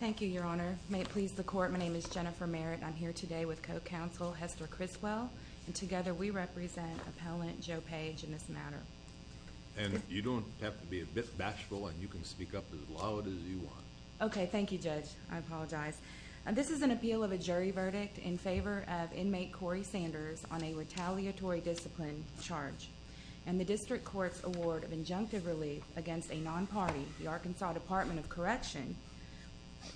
Thank you, Your Honor. May it please the Court, my name is Jennifer Merritt. I'm here today with co-counsel Hester Criswell, and together we represent appellant Joe Page in this matter. And you don't have to be a bit bashful, and you can speak up as loud as you want. Okay, thank you, Judge. I apologize. This is an appeal of a jury verdict in favor of the District Court's award of injunctive relief against a non-party, the Arkansas Department of Correction,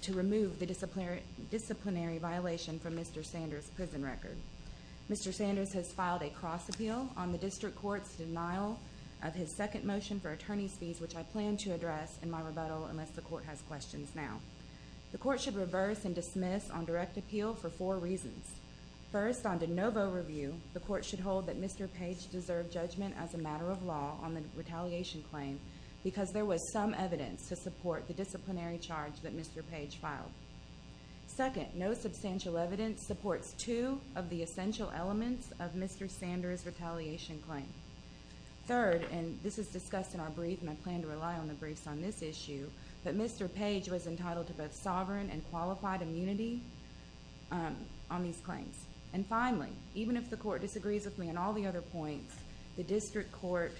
to remove the disciplinary violation from Mr. Sanders' prison record. Mr. Sanders has filed a cross-appeal on the District Court's denial of his second motion for attorney's fees, which I plan to address in my rebuttal, unless the Court has questions now. The Court should reverse and dismiss on direct appeal for four reasons. First, on de novo review, the Court should hold that Mr. Page deserved judgment as a matter of law on the retaliation claim because there was some evidence to support the disciplinary charge that Mr. Page filed. Second, no substantial evidence supports two of the essential elements of Mr. Sanders' retaliation claim. Third, and this is discussed in our brief, and I plan to rely on the briefs on this issue, that Mr. Page was entitled to both sovereign and qualified immunity on these claims. And finally, even if the Court disagrees with me on all the other points, the District Court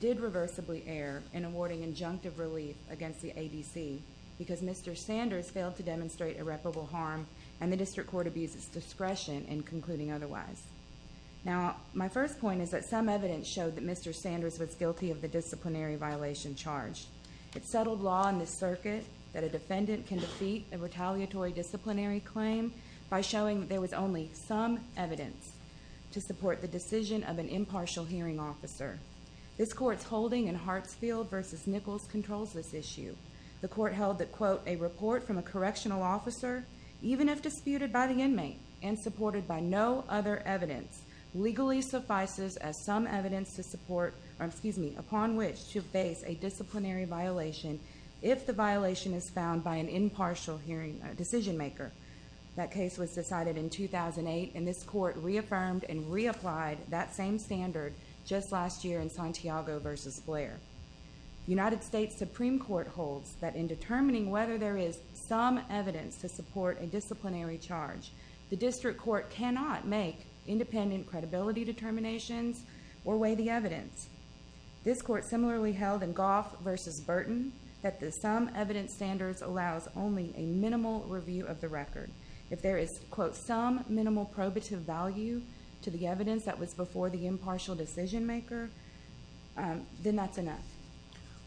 did reversibly err in awarding injunctive relief against the ADC because Mr. Sanders failed to demonstrate irreparable harm and the District Court abused its discretion in concluding otherwise. Now, my first point is that some evidence showed that Mr. Sanders was guilty of the disciplinary violation charged. It's settled law in this circuit that a defendant can defeat a retaliatory disciplinary claim by showing that there was only some evidence to support the decision of an impartial hearing officer. This Court's holding in Hartsfield v. Nichols controls this issue. The Court held that, quote, a report from a correctional officer, even if disputed by the inmate and supported by no other evidence, legally suffices as some evidence to support, or excuse me, upon which to face a disciplinary violation if the violation is found by an impartial hearing decision maker. That case was decided in 2008 and this Court reaffirmed and reapplied that same standard just last year in Santiago v. Blair. United States Supreme Court holds that in determining whether there is some evidence to support a disciplinary charge, the District Court cannot make independent credibility determinations or weigh the evidence. This Court similarly held in Goff v. Burton that the some evidence standards allows only a minimal review of the record. If there is, quote, some minimal probative value to the evidence that was before the impartial decision maker, then that's enough.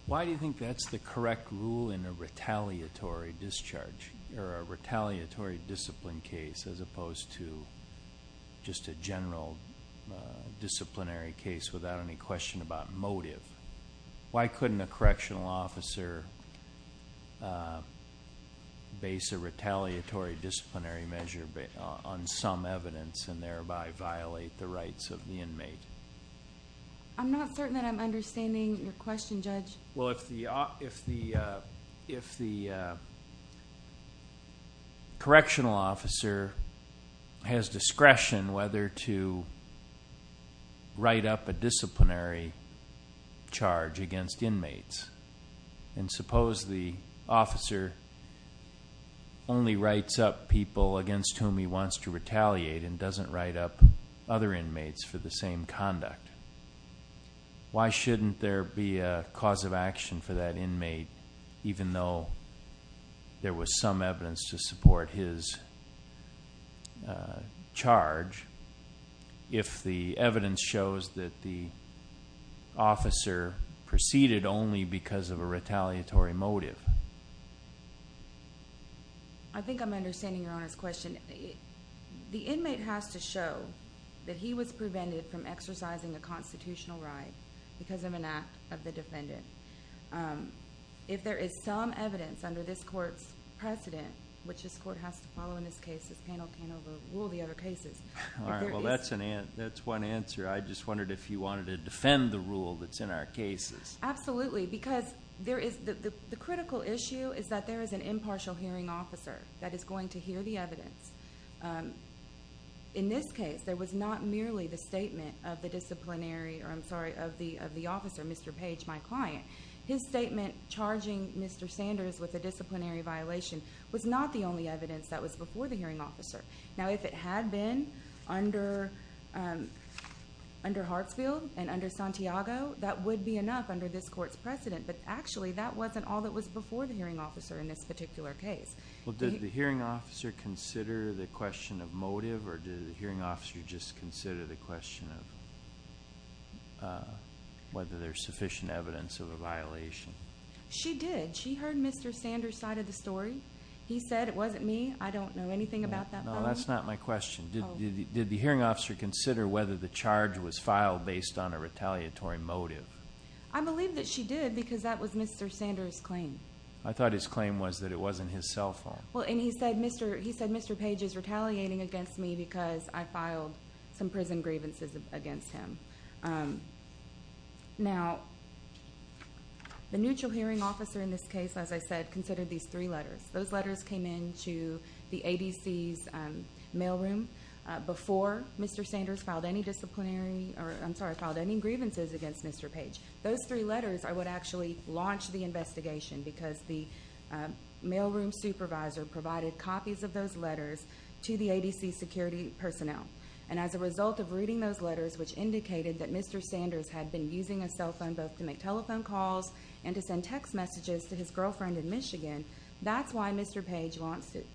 Why do you think that's the correct rule in a retaliatory discharge, or a retaliatory discipline case, as opposed to just a general disciplinary case without any question about motive? Why couldn't a correctional officer base a retaliatory disciplinary measure on some evidence and thereby violate the rights of the inmate? I'm not certain that I'm understanding your question, Judge. Well, if the correctional officer has discretion whether to write up a disciplinary charge against inmates, and suppose the officer only writes up people against whom he wants to conduct, why shouldn't there be a cause of action for that inmate, even though there was some evidence to support his charge, if the evidence shows that the officer proceeded only because of a retaliatory motive? I think I'm understanding Your Honor's question. The inmate has to show that he was prevented from exercising a constitutional right because of an act of the defendant. If there is some evidence under this court's precedent, which this court has to follow in this case, this panel can't overrule the other cases. All right. Well, that's one answer. I just wondered if you wanted to defend the rule that's in our cases. Absolutely, because the critical issue is that there is an impartial hearing officer that is going to hear the evidence. In this case, there was not merely the statement of the disciplinary, or I'm sorry, of the officer, Mr. Page, my client. His statement charging Mr. Sanders with a disciplinary violation was not the only evidence that was before the hearing officer. Now, if it had been under Hartsfield and under Santiago, that would be enough under this court's precedent, but actually that wasn't all that was before the hearing officer in this particular case. Well, did the hearing officer consider the question of motive, or did the hearing officer just consider the question of whether there's sufficient evidence of a violation? She did. She heard Mr. Sanders' side of the story. He said, it wasn't me. I don't know anything about that. No, that's not my question. Did the hearing officer consider whether the charge was filed based on a retaliatory motive? I thought his claim was that it wasn't his cell phone. Well, and he said, Mr. Page is retaliating against me because I filed some prison grievances against him. Now, the neutral hearing officer in this case, as I said, considered these three letters. Those letters came in to the ADC's mailroom before Mr. Sanders filed any disciplinary, or I'm sorry, filed any grievances against Mr. Page. Those three letters are what actually launched the investigation, because the mailroom supervisor provided copies of those letters to the ADC security personnel. And as a result of reading those letters, which indicated that Mr. Sanders had been using a cell phone both to make telephone calls and to send text messages to his girlfriend in Michigan, that's why Mr. Page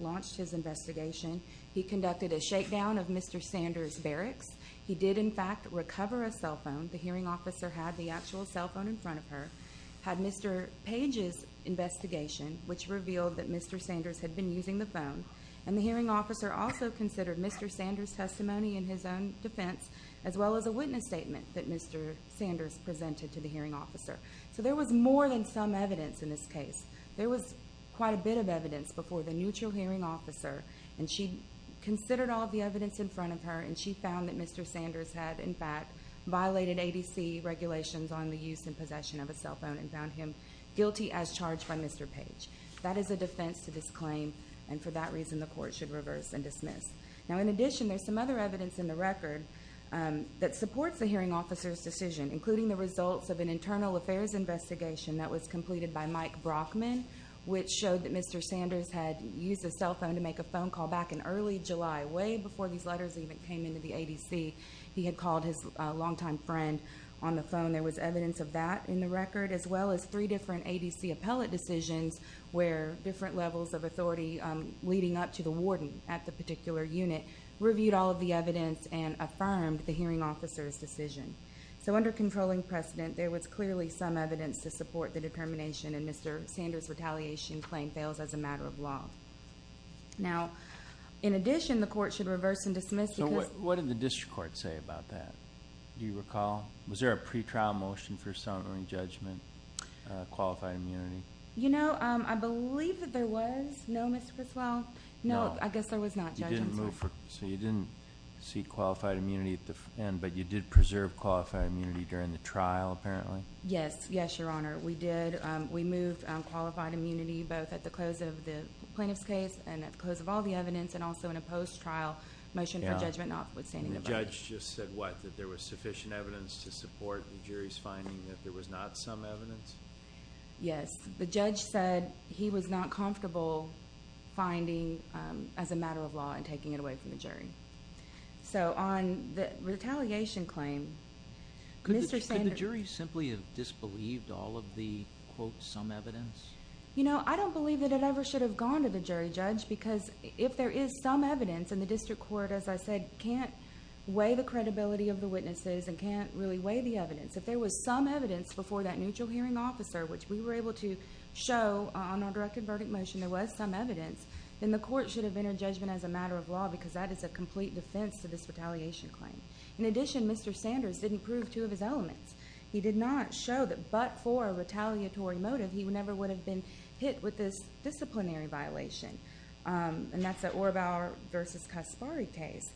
launched his investigation. He conducted a shakedown of Mr. Sanders' barracks. He did, in fact, recover a cell phone. The hearing officer had the actual cell phone in front of her, had Mr. Page's investigation, which revealed that Mr. Sanders had been using the phone. And the hearing officer also considered Mr. Sanders' testimony in his own defense, as well as a witness statement that Mr. Sanders presented to the hearing officer. So there was more than some evidence in this case. There was quite a bit of evidence before the neutral hearing officer, and she considered all of the evidence in front of her, and she concluded that Mr. Sanders had, in fact, violated ADC regulations on the use and possession of a cell phone and found him guilty as charged by Mr. Page. That is a defense to this claim, and for that reason the Court should reverse and dismiss. Now, in addition, there's some other evidence in the record that supports the hearing officer's decision, including the results of an internal affairs investigation that was completed by Mike Brockman, which showed that Mr. Sanders had used a cell phone to make a phone call back in early July, way before these letters even came into the ADC. He had called his longtime friend on the phone. There was evidence of that in the record, as well as three different ADC appellate decisions where different levels of authority leading up to the warden at the particular unit reviewed all of the evidence and affirmed the hearing officer's decision. So under controlling precedent, there was clearly some evidence to support the determination in Mr. Sanders' retaliation claim fails as a matter of law. Now, in addition, the Court should reverse and dismiss because... So what did the district court say about that? Do you recall? Was there a pre-trial motion for assent or in judgment, qualified immunity? You know, I believe that there was. No, Mr. Criswell? No. I guess there was not, judging from... So you didn't seek qualified immunity at the end, but you did preserve qualified immunity during the trial, apparently? Yes. Yes, Your Honor. We did. We moved qualified immunity both at the close of the plaintiff's case and at the close of all the evidence and also in a post-trial motion for judgment notwithstanding the verdict. And the judge just said what? That there was sufficient evidence to support the jury's finding that there was not some evidence? Yes. The judge said he was not comfortable finding as a matter of law and taking it away from the jury. So on the retaliation claim, Mr. Sanders... Could the jury simply have disbelieved all of the quote, some evidence? You know, I don't believe that it ever should have gone to the jury judge because if there is some evidence, and the district court, as I said, can't weigh the credibility of the witnesses and can't really weigh the evidence. If there was some evidence before that neutral hearing officer, which we were able to show on our directed verdict motion, there was some evidence, then the Court should have entered judgment as a matter of law because that is a complete defense to this retaliation claim. In addition, Mr. Sanders didn't prove two of his elements. He did not show that but for a retaliatory motive, he never would have been hit with this disciplinary violation. And that's at Orrbauer v. Kaspari case.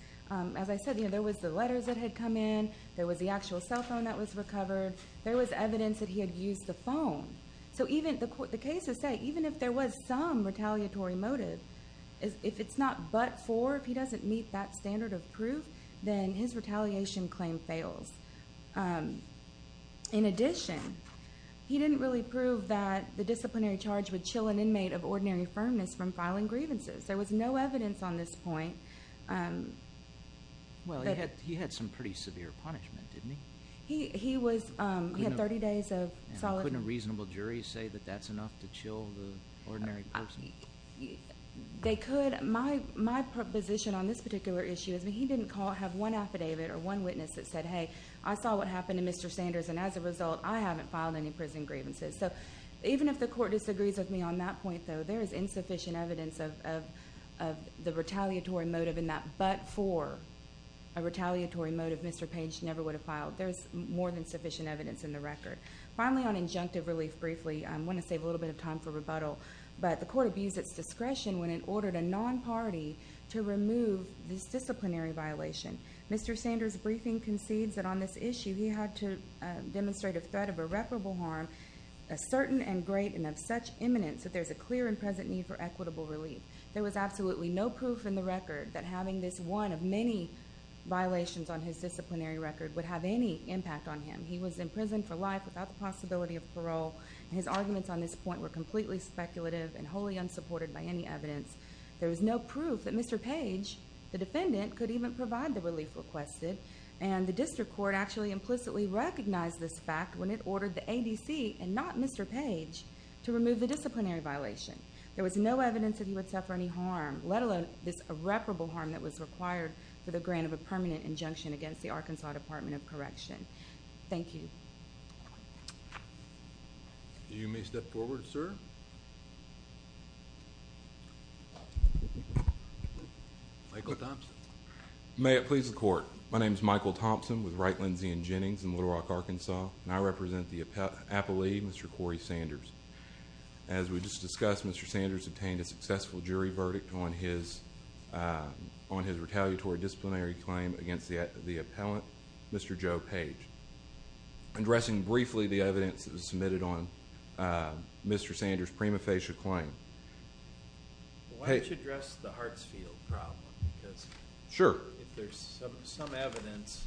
As I said, you know, there was the letters that had come in. There was the actual cell phone that was recovered. There was evidence that he had used the phone. So even, the case is set, even if there was some retaliatory motive, if it's not but for, if he doesn't meet that standard of proof, then his retaliation claim fails. In addition, he didn't really prove that the disciplinary charge would chill an inmate of ordinary firmness from filing grievances. There was no evidence on this point. Well, he had some pretty severe punishment, didn't he? He was, he had 30 days of solid... Couldn't a reasonable jury say that that's enough to chill the ordinary person? They could. My proposition on this particular issue is that he didn't have one affidavit or one witness that said, hey, I saw what happened to Mr. Sanders, and as a result, I haven't filed any prison grievances. So even if the Court disagrees with me on that point, though, there is insufficient evidence of the retaliatory motive in that but for a retaliatory motive, Mr. Page never would have filed. There's more than sufficient evidence in the record. Finally, on injunctive relief, briefly, I want to save a little bit of time for rebuttal, but the Court abused its discretion when it ordered a non-party to remove this disciplinary violation. Mr. Sanders' briefing concedes that on this issue, he had to demonstrate a threat of irreparable harm, a certain and great and of such imminence that there's a clear and present need for equitable relief. There was absolutely no proof in the record that having this one of many violations on his disciplinary record would have any impact on him. He was in prison for life without the possibility of parole, and his arguments on this point were completely speculative and wholly unsupported by any evidence. There was no proof that Mr. Page, the defendant, could even provide the relief requested, and the District Court actually implicitly recognized this fact when it ordered the ABC and not Mr. Page to remove the disciplinary violation. There was no evidence that he would suffer any harm, let alone this irreparable harm that was required for the grant of a permanent injunction against the Arkansas Department of Correction. Thank you. You may step forward, sir. Michael Thompson. May it please the Court. My name is Michael Thompson with Wright, Lindsay, and Jennings in Little Rock, Arkansas, and I represent the appellee, Mr. Corey Sanders. As we just discussed, Mr. Sanders obtained a successful jury verdict on his retaliatory disciplinary claim against the appellant, Mr. Joe Page. Addressing briefly the evidence that was submitted on Mr. Sanders' prima facie claim. Why don't you address the Hartsfield problem, because if there's some evidence,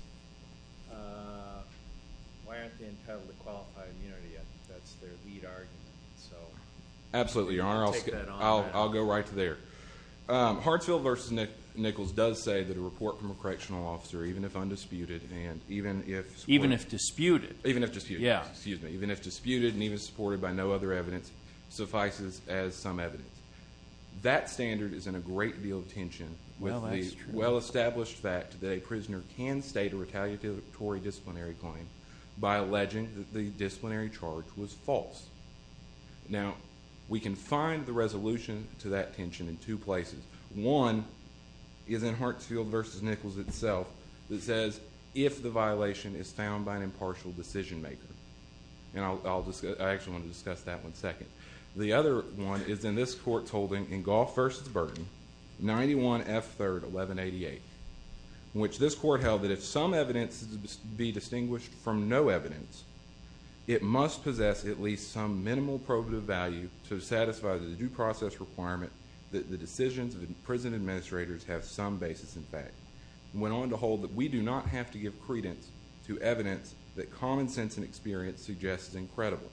why aren't they entitled to qualified immunity? That's their lead argument. Absolutely, Your Honor. I'll go right to there. Hartsfield v. Nichols does say that a report from a correctional officer, even if undisputed, and even if supported by no other evidence, suffices as some evidence. That standard is in a great deal of tension with the well-established fact that a prisoner can state a retaliatory disciplinary claim by alleging that the disciplinary charge was false. Now, we can find the resolution to that tension in two places. One is in Hartsfield v. Nichols itself that says, if the violation is found by an impartial decision maker. I actually want to discuss that one second. The other one is in this Court's holding in Goff v. Burton, 91 F. 3rd, 1188, in which this Court held that if some evidence is to be distinguished from no evidence, it must possess at least some minimal probative value to satisfy the due process requirement that the decisions of imprisoned administrators have some basis in fact. It went on to hold that we do not have to give credence to evidence that common sense and experience suggests is incredible.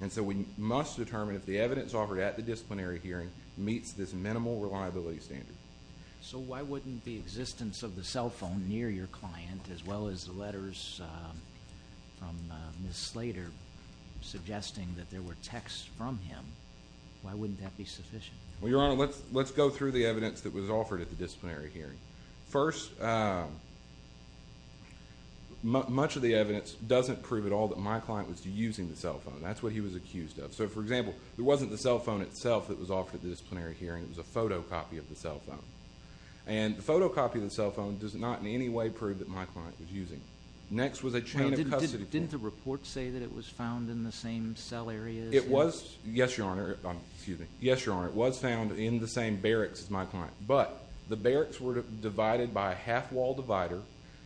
And so we must determine if the evidence offered at the disciplinary hearing meets this minimal reliability standard. So why wouldn't the existence of the cell phone near your client, as well as the letters from Ms. Slater suggesting that there were texts from him, why wouldn't that be sufficient? Well, Your Honor, let's go through the evidence that was offered at the disciplinary hearing. First, much of the evidence doesn't prove at all that my client was using the cell phone. That's what he was accused of. So, for example, there wasn't the cell phone itself that was offered at the disciplinary hearing. It was a photocopy of the cell phone. And the photocopy of the cell phone does not in any way prove that my client was using it. Next was a chain of custody. Didn't the report say that it was found in the same cell areas? It was, yes, Your Honor. It was found in the same barracks as my client. But the barracks were divided by a half-wall divider.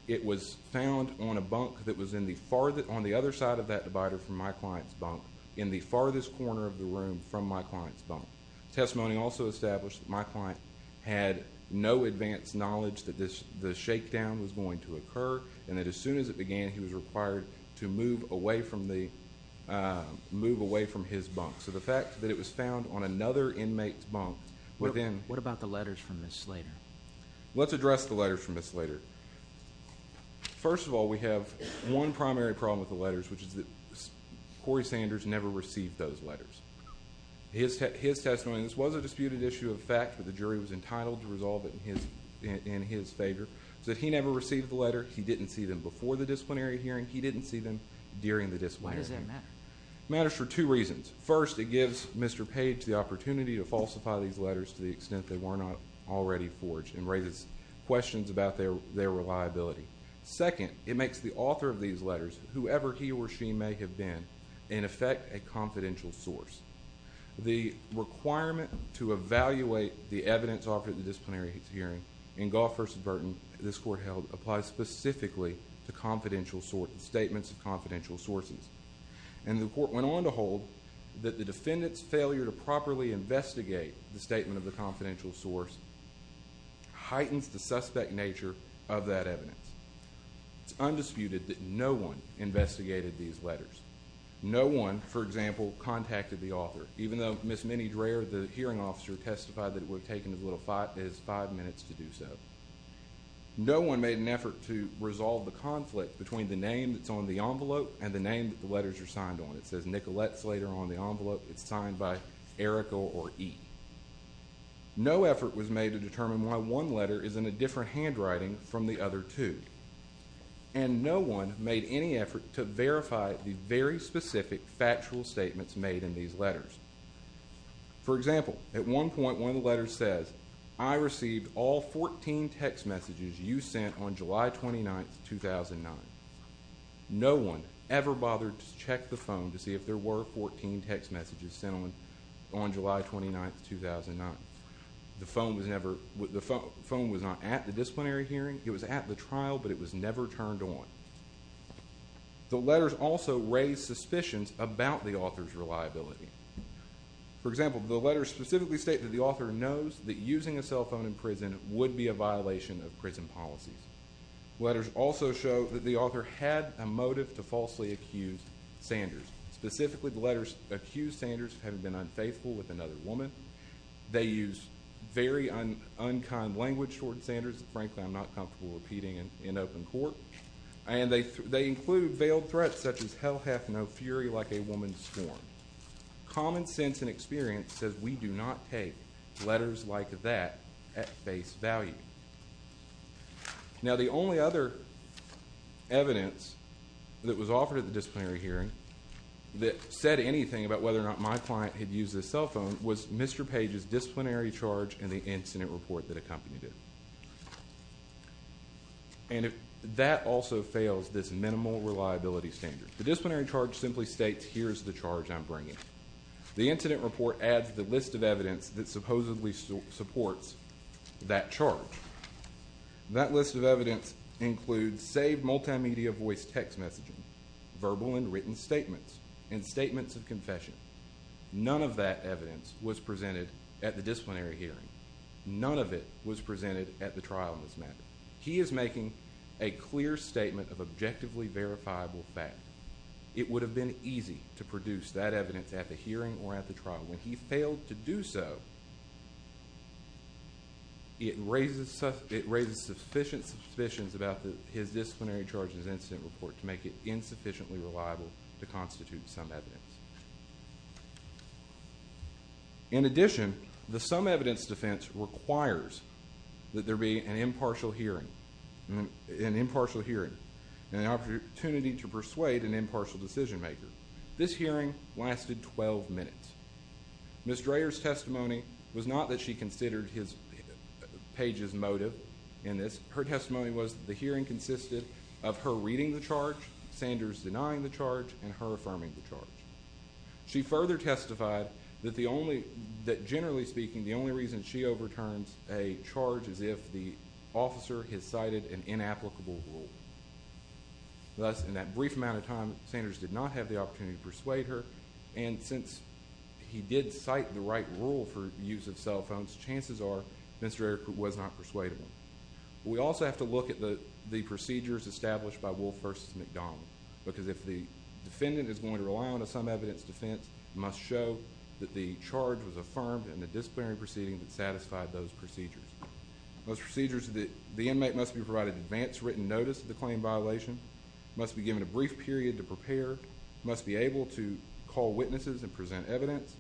It was found on a bunk that was on the other side of that divider from my client's bunk in the farthest corner of the room from my client's bunk. Testimony also established that my client had no advanced knowledge that the shakedown was going to occur and that as soon as it began, he was required to move away from his bunk. So the fact that it was found on another inmate's bunk within What about the letters from Ms. Slater? Let's address the letters from Ms. Slater. First of all, we have one primary problem with the letters, which is that Corey Sanders never received those letters. His testimony, and this was a disputed issue of fact, but the jury was entitled to resolve it in his favor, is that he never received the letter. He didn't see them before the disciplinary hearing. He didn't see them during the disciplinary hearing. Why does that matter? It matters for two reasons. First, it gives Mr. Page the opportunity to falsify these letters to the extent they were not already forged and raises questions about their reliability. Second, it makes the author of these letters, whoever he or she may have been, in effect a confidential source. The requirement to evaluate the evidence offered at the disciplinary hearing in Goff v. Burton, this court held, applies specifically to statements of confidential sources. And the court went on to hold that the defendant's failure to properly investigate the statement of the confidential source heightens the suspect nature of that evidence. It's undisputed that no one investigated these letters. No one, for example, contacted the author, even though Ms. Minnie Dreher, the hearing officer, testified that it would have taken as little as five minutes to do so. No one made an effort to resolve the conflict between the name that's on the envelope and the name that the letters are signed on. It says Nicolette Slater on the envelope. It's signed by Erica or E. No effort was made to determine why one letter is in a different handwriting from the other two. And no one made any effort to verify the very specific factual statements made in these letters. For example, at one point one of the letters says, I received all 14 text messages you sent on July 29, 2009. No one ever bothered to check the phone to see if there were 14 text messages sent on July 29, 2009. The phone was not at the disciplinary hearing. It was at the trial, but it was never turned on. The letters also raise suspicions about the author's reliability. For example, the letters specifically state that the author knows that using a cell phone in prison would be a violation of prison policies. Letters also show that the author had a motive to falsely accuse Sanders. Specifically, the letters accuse Sanders of having been unfaithful with another woman. They use very unkind language toward Sanders that frankly I'm not comfortable repeating in open court. And they include veiled threats such as, Hell hath no fury like a woman's scorn. Common sense and experience says we do not take letters like that at face value. Now the only other evidence that was offered at the disciplinary hearing that said anything about whether or not my client had used a cell phone was Mr. Page's disciplinary charge and the incident report that accompanied it. And that also fails this minimal reliability standard. The disciplinary charge simply states here's the charge I'm bringing. The incident report adds the list of evidence that supposedly supports that charge. That list of evidence includes saved multimedia voice text messaging, verbal and written statements, and statements of confession. None of that evidence was presented at the disciplinary hearing. None of it was presented at the trial in this matter. He is making a clear statement of objectively verifiable fact. It would have been easy to produce that evidence at the hearing or at the trial. But when he failed to do so, it raises sufficient suspicions about his disciplinary charge and his incident report to make it insufficiently reliable to constitute some evidence. In addition, the some evidence defense requires that there be an impartial hearing, an impartial hearing and an opportunity to persuade an impartial decision maker. This hearing lasted 12 minutes. Ms. Dreher's testimony was not that she considered Page's motive in this. Her testimony was that the hearing consisted of her reading the charge, Sanders denying the charge, and her affirming the charge. She further testified that generally speaking the only reason she overturns a charge is if the officer has cited an inapplicable rule. Thus, in that brief amount of time, Sanders did not have the opportunity to persuade her. And since he did cite the right rule for use of cell phones, chances are Ms. Dreher was not persuadable. We also have to look at the procedures established by Wolf v. McDonald. Because if the defendant is going to rely on a some evidence defense, it must show that the charge was affirmed and the disciplinary proceeding satisfied those procedures. Those procedures that the inmate must be provided advance written notice of the claim violation, must be given a brief period to prepare, must be able to call witnesses and present evidence.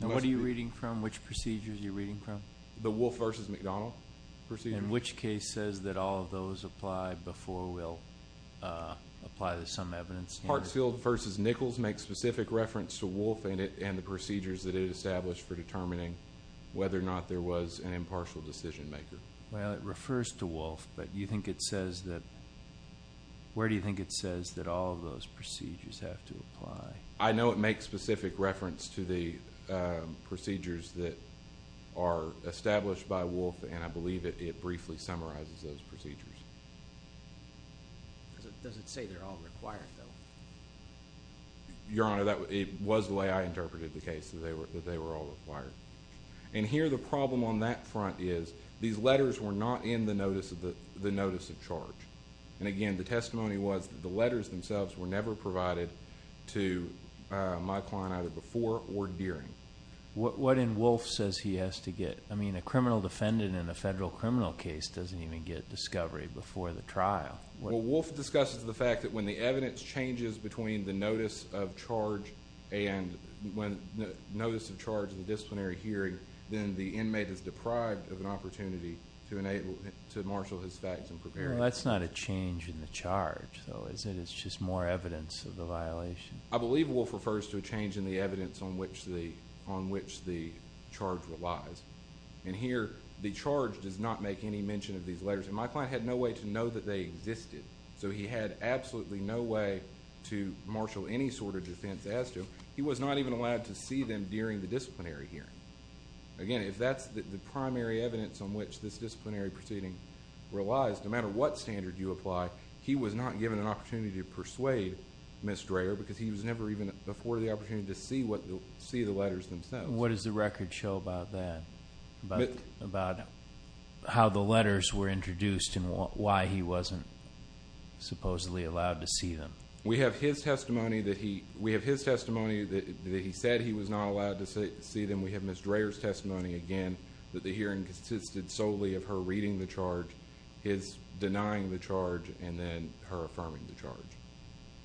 And what are you reading from? Which procedures are you reading from? The Wolf v. McDonald procedure. And which case says that all of those apply before we'll apply the some evidence? Parkfield v. Nichols makes specific reference to Wolf and the procedures that it established for determining whether or not there was an impartial decision maker. Well, it refers to Wolf, but you think it says that, where do you think it says that all of those procedures have to apply? I know it makes specific reference to the procedures that are established by Wolf, and I believe it briefly summarizes those procedures. Does it say they're all required, though? Your Honor, it was the way I interpreted the case, that they were all required. And here the problem on that front is these letters were not in the notice of charge. And again, the testimony was that the letters themselves were never provided to my client, either before or during. What in Wolf says he has to get? I mean, a criminal defendant in a federal criminal case doesn't even get discovery before the trial. Well, Wolf discusses the fact that when the evidence changes between the notice of charge and the disciplinary hearing, then the inmate is deprived of an opportunity to marshal his facts and prepare. That's not a change in the charge, though, is it? It's just more evidence of the violation. I believe Wolf refers to a change in the evidence on which the charge relies. And here the charge does not make any mention of these letters. And my client had no way to know that they existed. So he had absolutely no way to marshal any sort of defense as to. He was not even allowed to see them during the disciplinary hearing. Again, if that's the primary evidence on which this disciplinary proceeding relies, no matter what standard you apply, he was not given an opportunity to persuade Ms. Dreher because he was never even afforded the opportunity to see the letters themselves. What does the record show about that, about how the letters were introduced and why he wasn't supposedly allowed to see them? We have his testimony that he said he was not allowed to see them. We have Ms. Dreher's testimony, again, that the hearing consisted solely of her reading the charge, his denying the charge, and then her affirming the charge.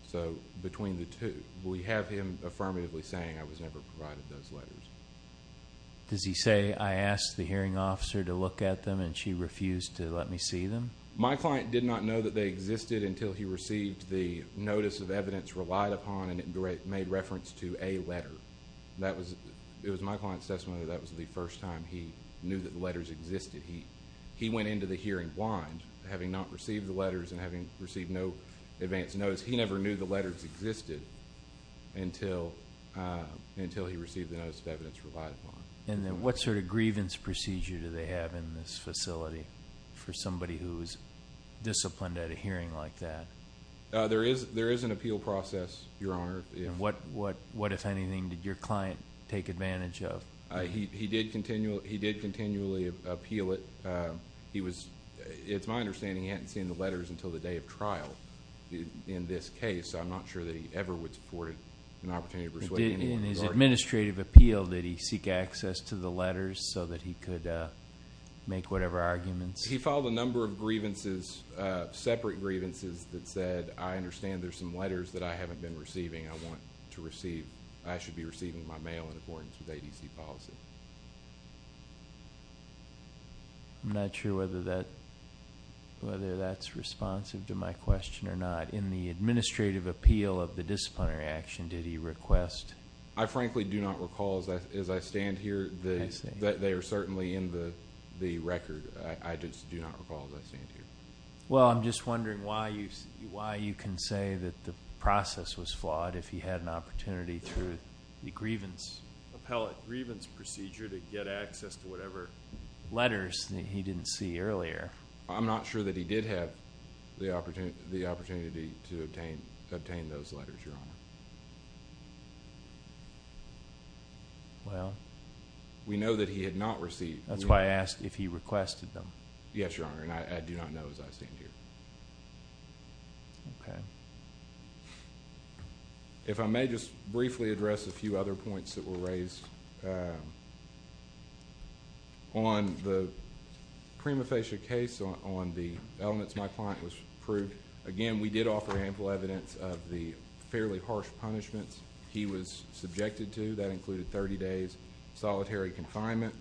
So between the two. We have him affirmatively saying, I was never provided those letters. Does he say, I asked the hearing officer to look at them and she refused to let me see them? My client did not know that they existed until he received the notice of evidence relied upon and it made reference to a letter. It was my client's testimony that that was the first time he knew that the letters existed. He went into the hearing blind. Having not received the letters and having received no advance notice, he never knew the letters existed until he received the notice of evidence relied upon. What sort of grievance procedure do they have in this facility for somebody who is disciplined at a hearing like that? There is an appeal process, Your Honor. What, if anything, did your client take advantage of? He did continually appeal it. It's my understanding he hadn't seen the letters until the day of trial in this case. I'm not sure that he ever would support an opportunity to persuade anyone. In his administrative appeal, did he seek access to the letters so that he could make whatever arguments? He filed a number of grievances, separate grievances, that said, I understand there are some letters that I haven't been receiving. I should be receiving my mail in accordance with ADC policy. I'm not sure whether that's responsive to my question or not. In the administrative appeal of the disciplinary action, did he request? I frankly do not recall, as I stand here, that they are certainly in the record. I just do not recall, as I stand here. Well, I'm just wondering why you can say that the process was flawed if he had an opportunity through the grievance. Appellate grievance procedure to get access to whatever letters that he didn't see earlier. I'm not sure that he did have the opportunity to obtain those letters, Your Honor. We know that he had not received. That's why I asked if he requested them. Yes, Your Honor, and I do not know, as I stand here. If I may just briefly address a few other points that were raised. On the prima facie case on the elements my client was proved, again, we did offer ample evidence of the fairly harsh punishments he was subjected to. That included 30 days solitary confinement.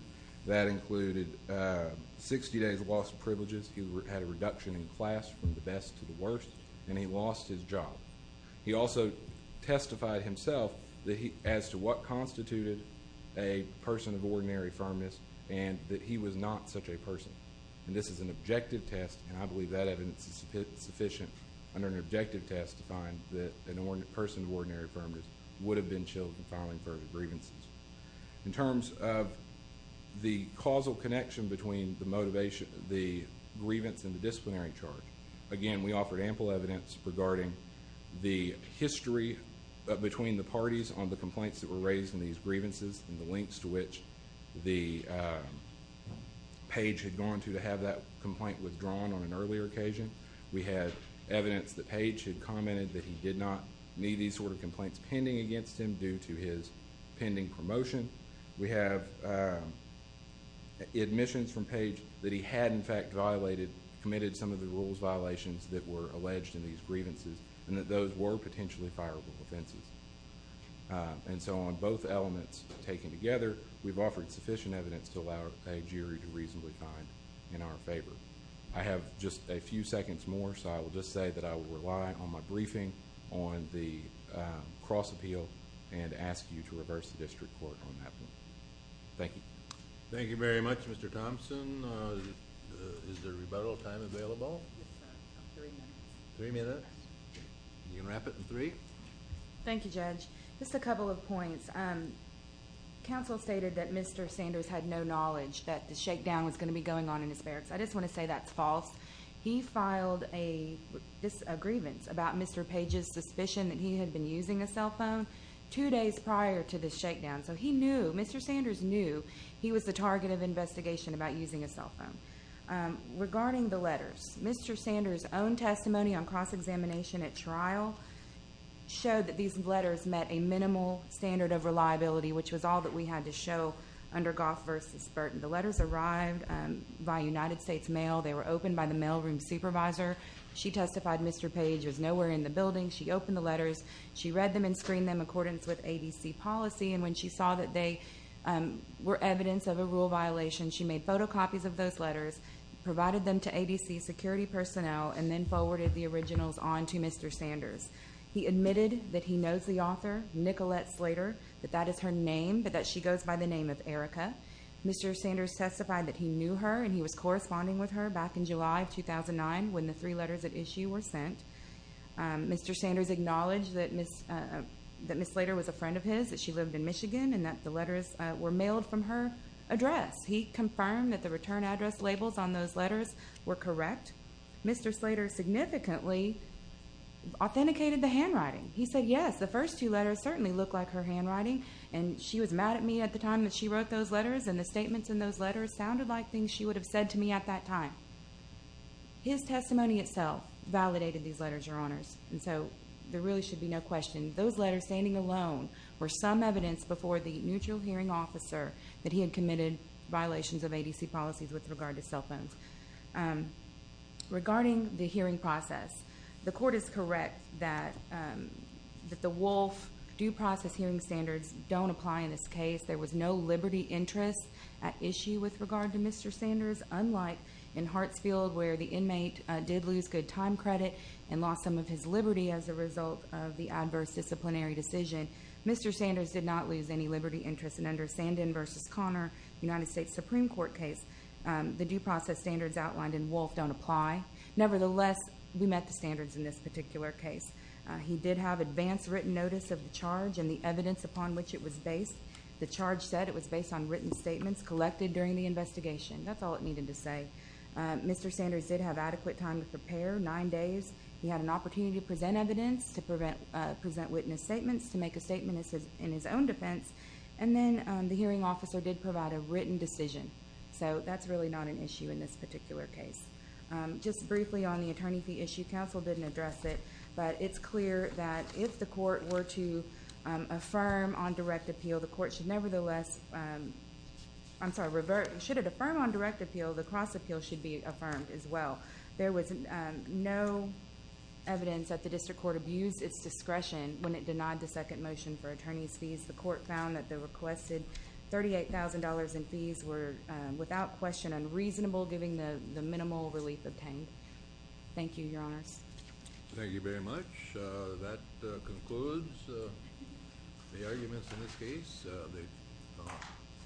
That included 60 days loss of privileges. He had a reduction in class from the best to the worst, and he lost his job. He also testified himself as to what constituted a person of ordinary firmness and that he was not such a person. And this is an objective test, and I believe that evidence is sufficient under an objective test to find that a person of ordinary firmness would have been chilled in filing further grievances. In terms of the causal connection between the grievance and the disciplinary charge, again, we offered ample evidence regarding the history between the parties on the complaints that were raised in these grievances and the lengths to which the page had gone to to have that complaint withdrawn on an earlier occasion. We had evidence that page had commented that he did not need these sort of complaints pending against him due to his pending promotion. We have admissions from page that he had, in fact, violated, committed some of the rules violations that were alleged in these grievances and that those were potentially fireable offenses. And so on both elements taken together, we've offered sufficient evidence to allow a jury to reasonably find in our favor. I have just a few seconds more, so I will just say that I will rely on my briefing on the cross appeal and ask you to reverse the district court on that one. Thank you. Thank you very much, Mr. Thompson. Is there rebuttal time available? Three minutes. You can wrap it in three. Thank you, Judge. Just a couple of points. Counsel stated that Mr. Sanders had no knowledge that the shakedown was going to be going on in his barracks. I just want to say that's false. He filed a grievance about Mr. Page's suspicion that he had been using a cell phone two days prior to the shakedown. So he knew, Mr. Sanders knew he was the target of investigation about using a cell phone. Regarding the letters, Mr. Sanders' own testimony on cross-examination at trial showed that these letters met a minimal standard of reliability, which was all that we had to show under Goff v. Burton. The letters arrived by United States mail. They were opened by the mailroom supervisor. She testified Mr. Page was nowhere in the building. She opened the letters. She read them and screened them in accordance with ADC policy, and when she saw that they were evidence of a rule violation, she made photocopies of those letters, provided them to ADC security personnel, and then forwarded the originals on to Mr. Sanders. He admitted that he knows the author, Nicolette Slater, that that is her name, but that she goes by the name of Erica. Mr. Sanders testified that he knew her, and he was corresponding with her back in July of 2009 when the three letters at issue were sent. Mr. Sanders acknowledged that Ms. Slater was a friend of his, that she lived in Michigan, and that the letters were mailed from her address. He confirmed that the return address labels on those letters were correct. Mr. Slater significantly authenticated the handwriting. He said, yes, the first two letters certainly look like her handwriting, and she was mad at me at the time that she wrote those letters, and the statements in those letters sounded like things she would have said to me at that time. His testimony itself validated these letters, Your Honors, and so there really should be no question. Those letters standing alone were some evidence before the neutral hearing officer that he had committed violations of ADC policies with regard to cell phones. Regarding the hearing process, the court is correct that the Wolf due process hearing standards don't apply in this case. There was no liberty interest at issue with regard to Mr. Sanders, unlike in Hartsfield where the inmate did lose good time credit and lost some of his liberty as a result of the adverse disciplinary decision. Mr. Sanders did not lose any liberty interest, and under Sandin v. Conner, United States Supreme Court case, the due process standards outlined in Wolf don't apply. Nevertheless, we met the standards in this particular case. He did have advance written notice of the charge and the evidence upon which it was based. The charge said it was based on written statements collected during the investigation. That's all it needed to say. Mr. Sanders did have adequate time to prepare, nine days. He had an opportunity to present evidence, to present witness statements, to make a statement in his own defense, and then the hearing officer did provide a written decision. So that's really not an issue in this particular case. Just briefly on the attorney fee issue, counsel didn't address it, but it's clear that if the court were to affirm on direct appeal, the court should nevertheless, I'm sorry, should it affirm on direct appeal, the cross appeal should be affirmed as well. There was no evidence that the district court abused its discretion when it denied the second motion for attorney's fees. The court found that the requested $38,000 in fees were, without question, unreasonable given the minimal relief obtained. Thank you, Your Honors. Thank you very much. That concludes the arguments in this case.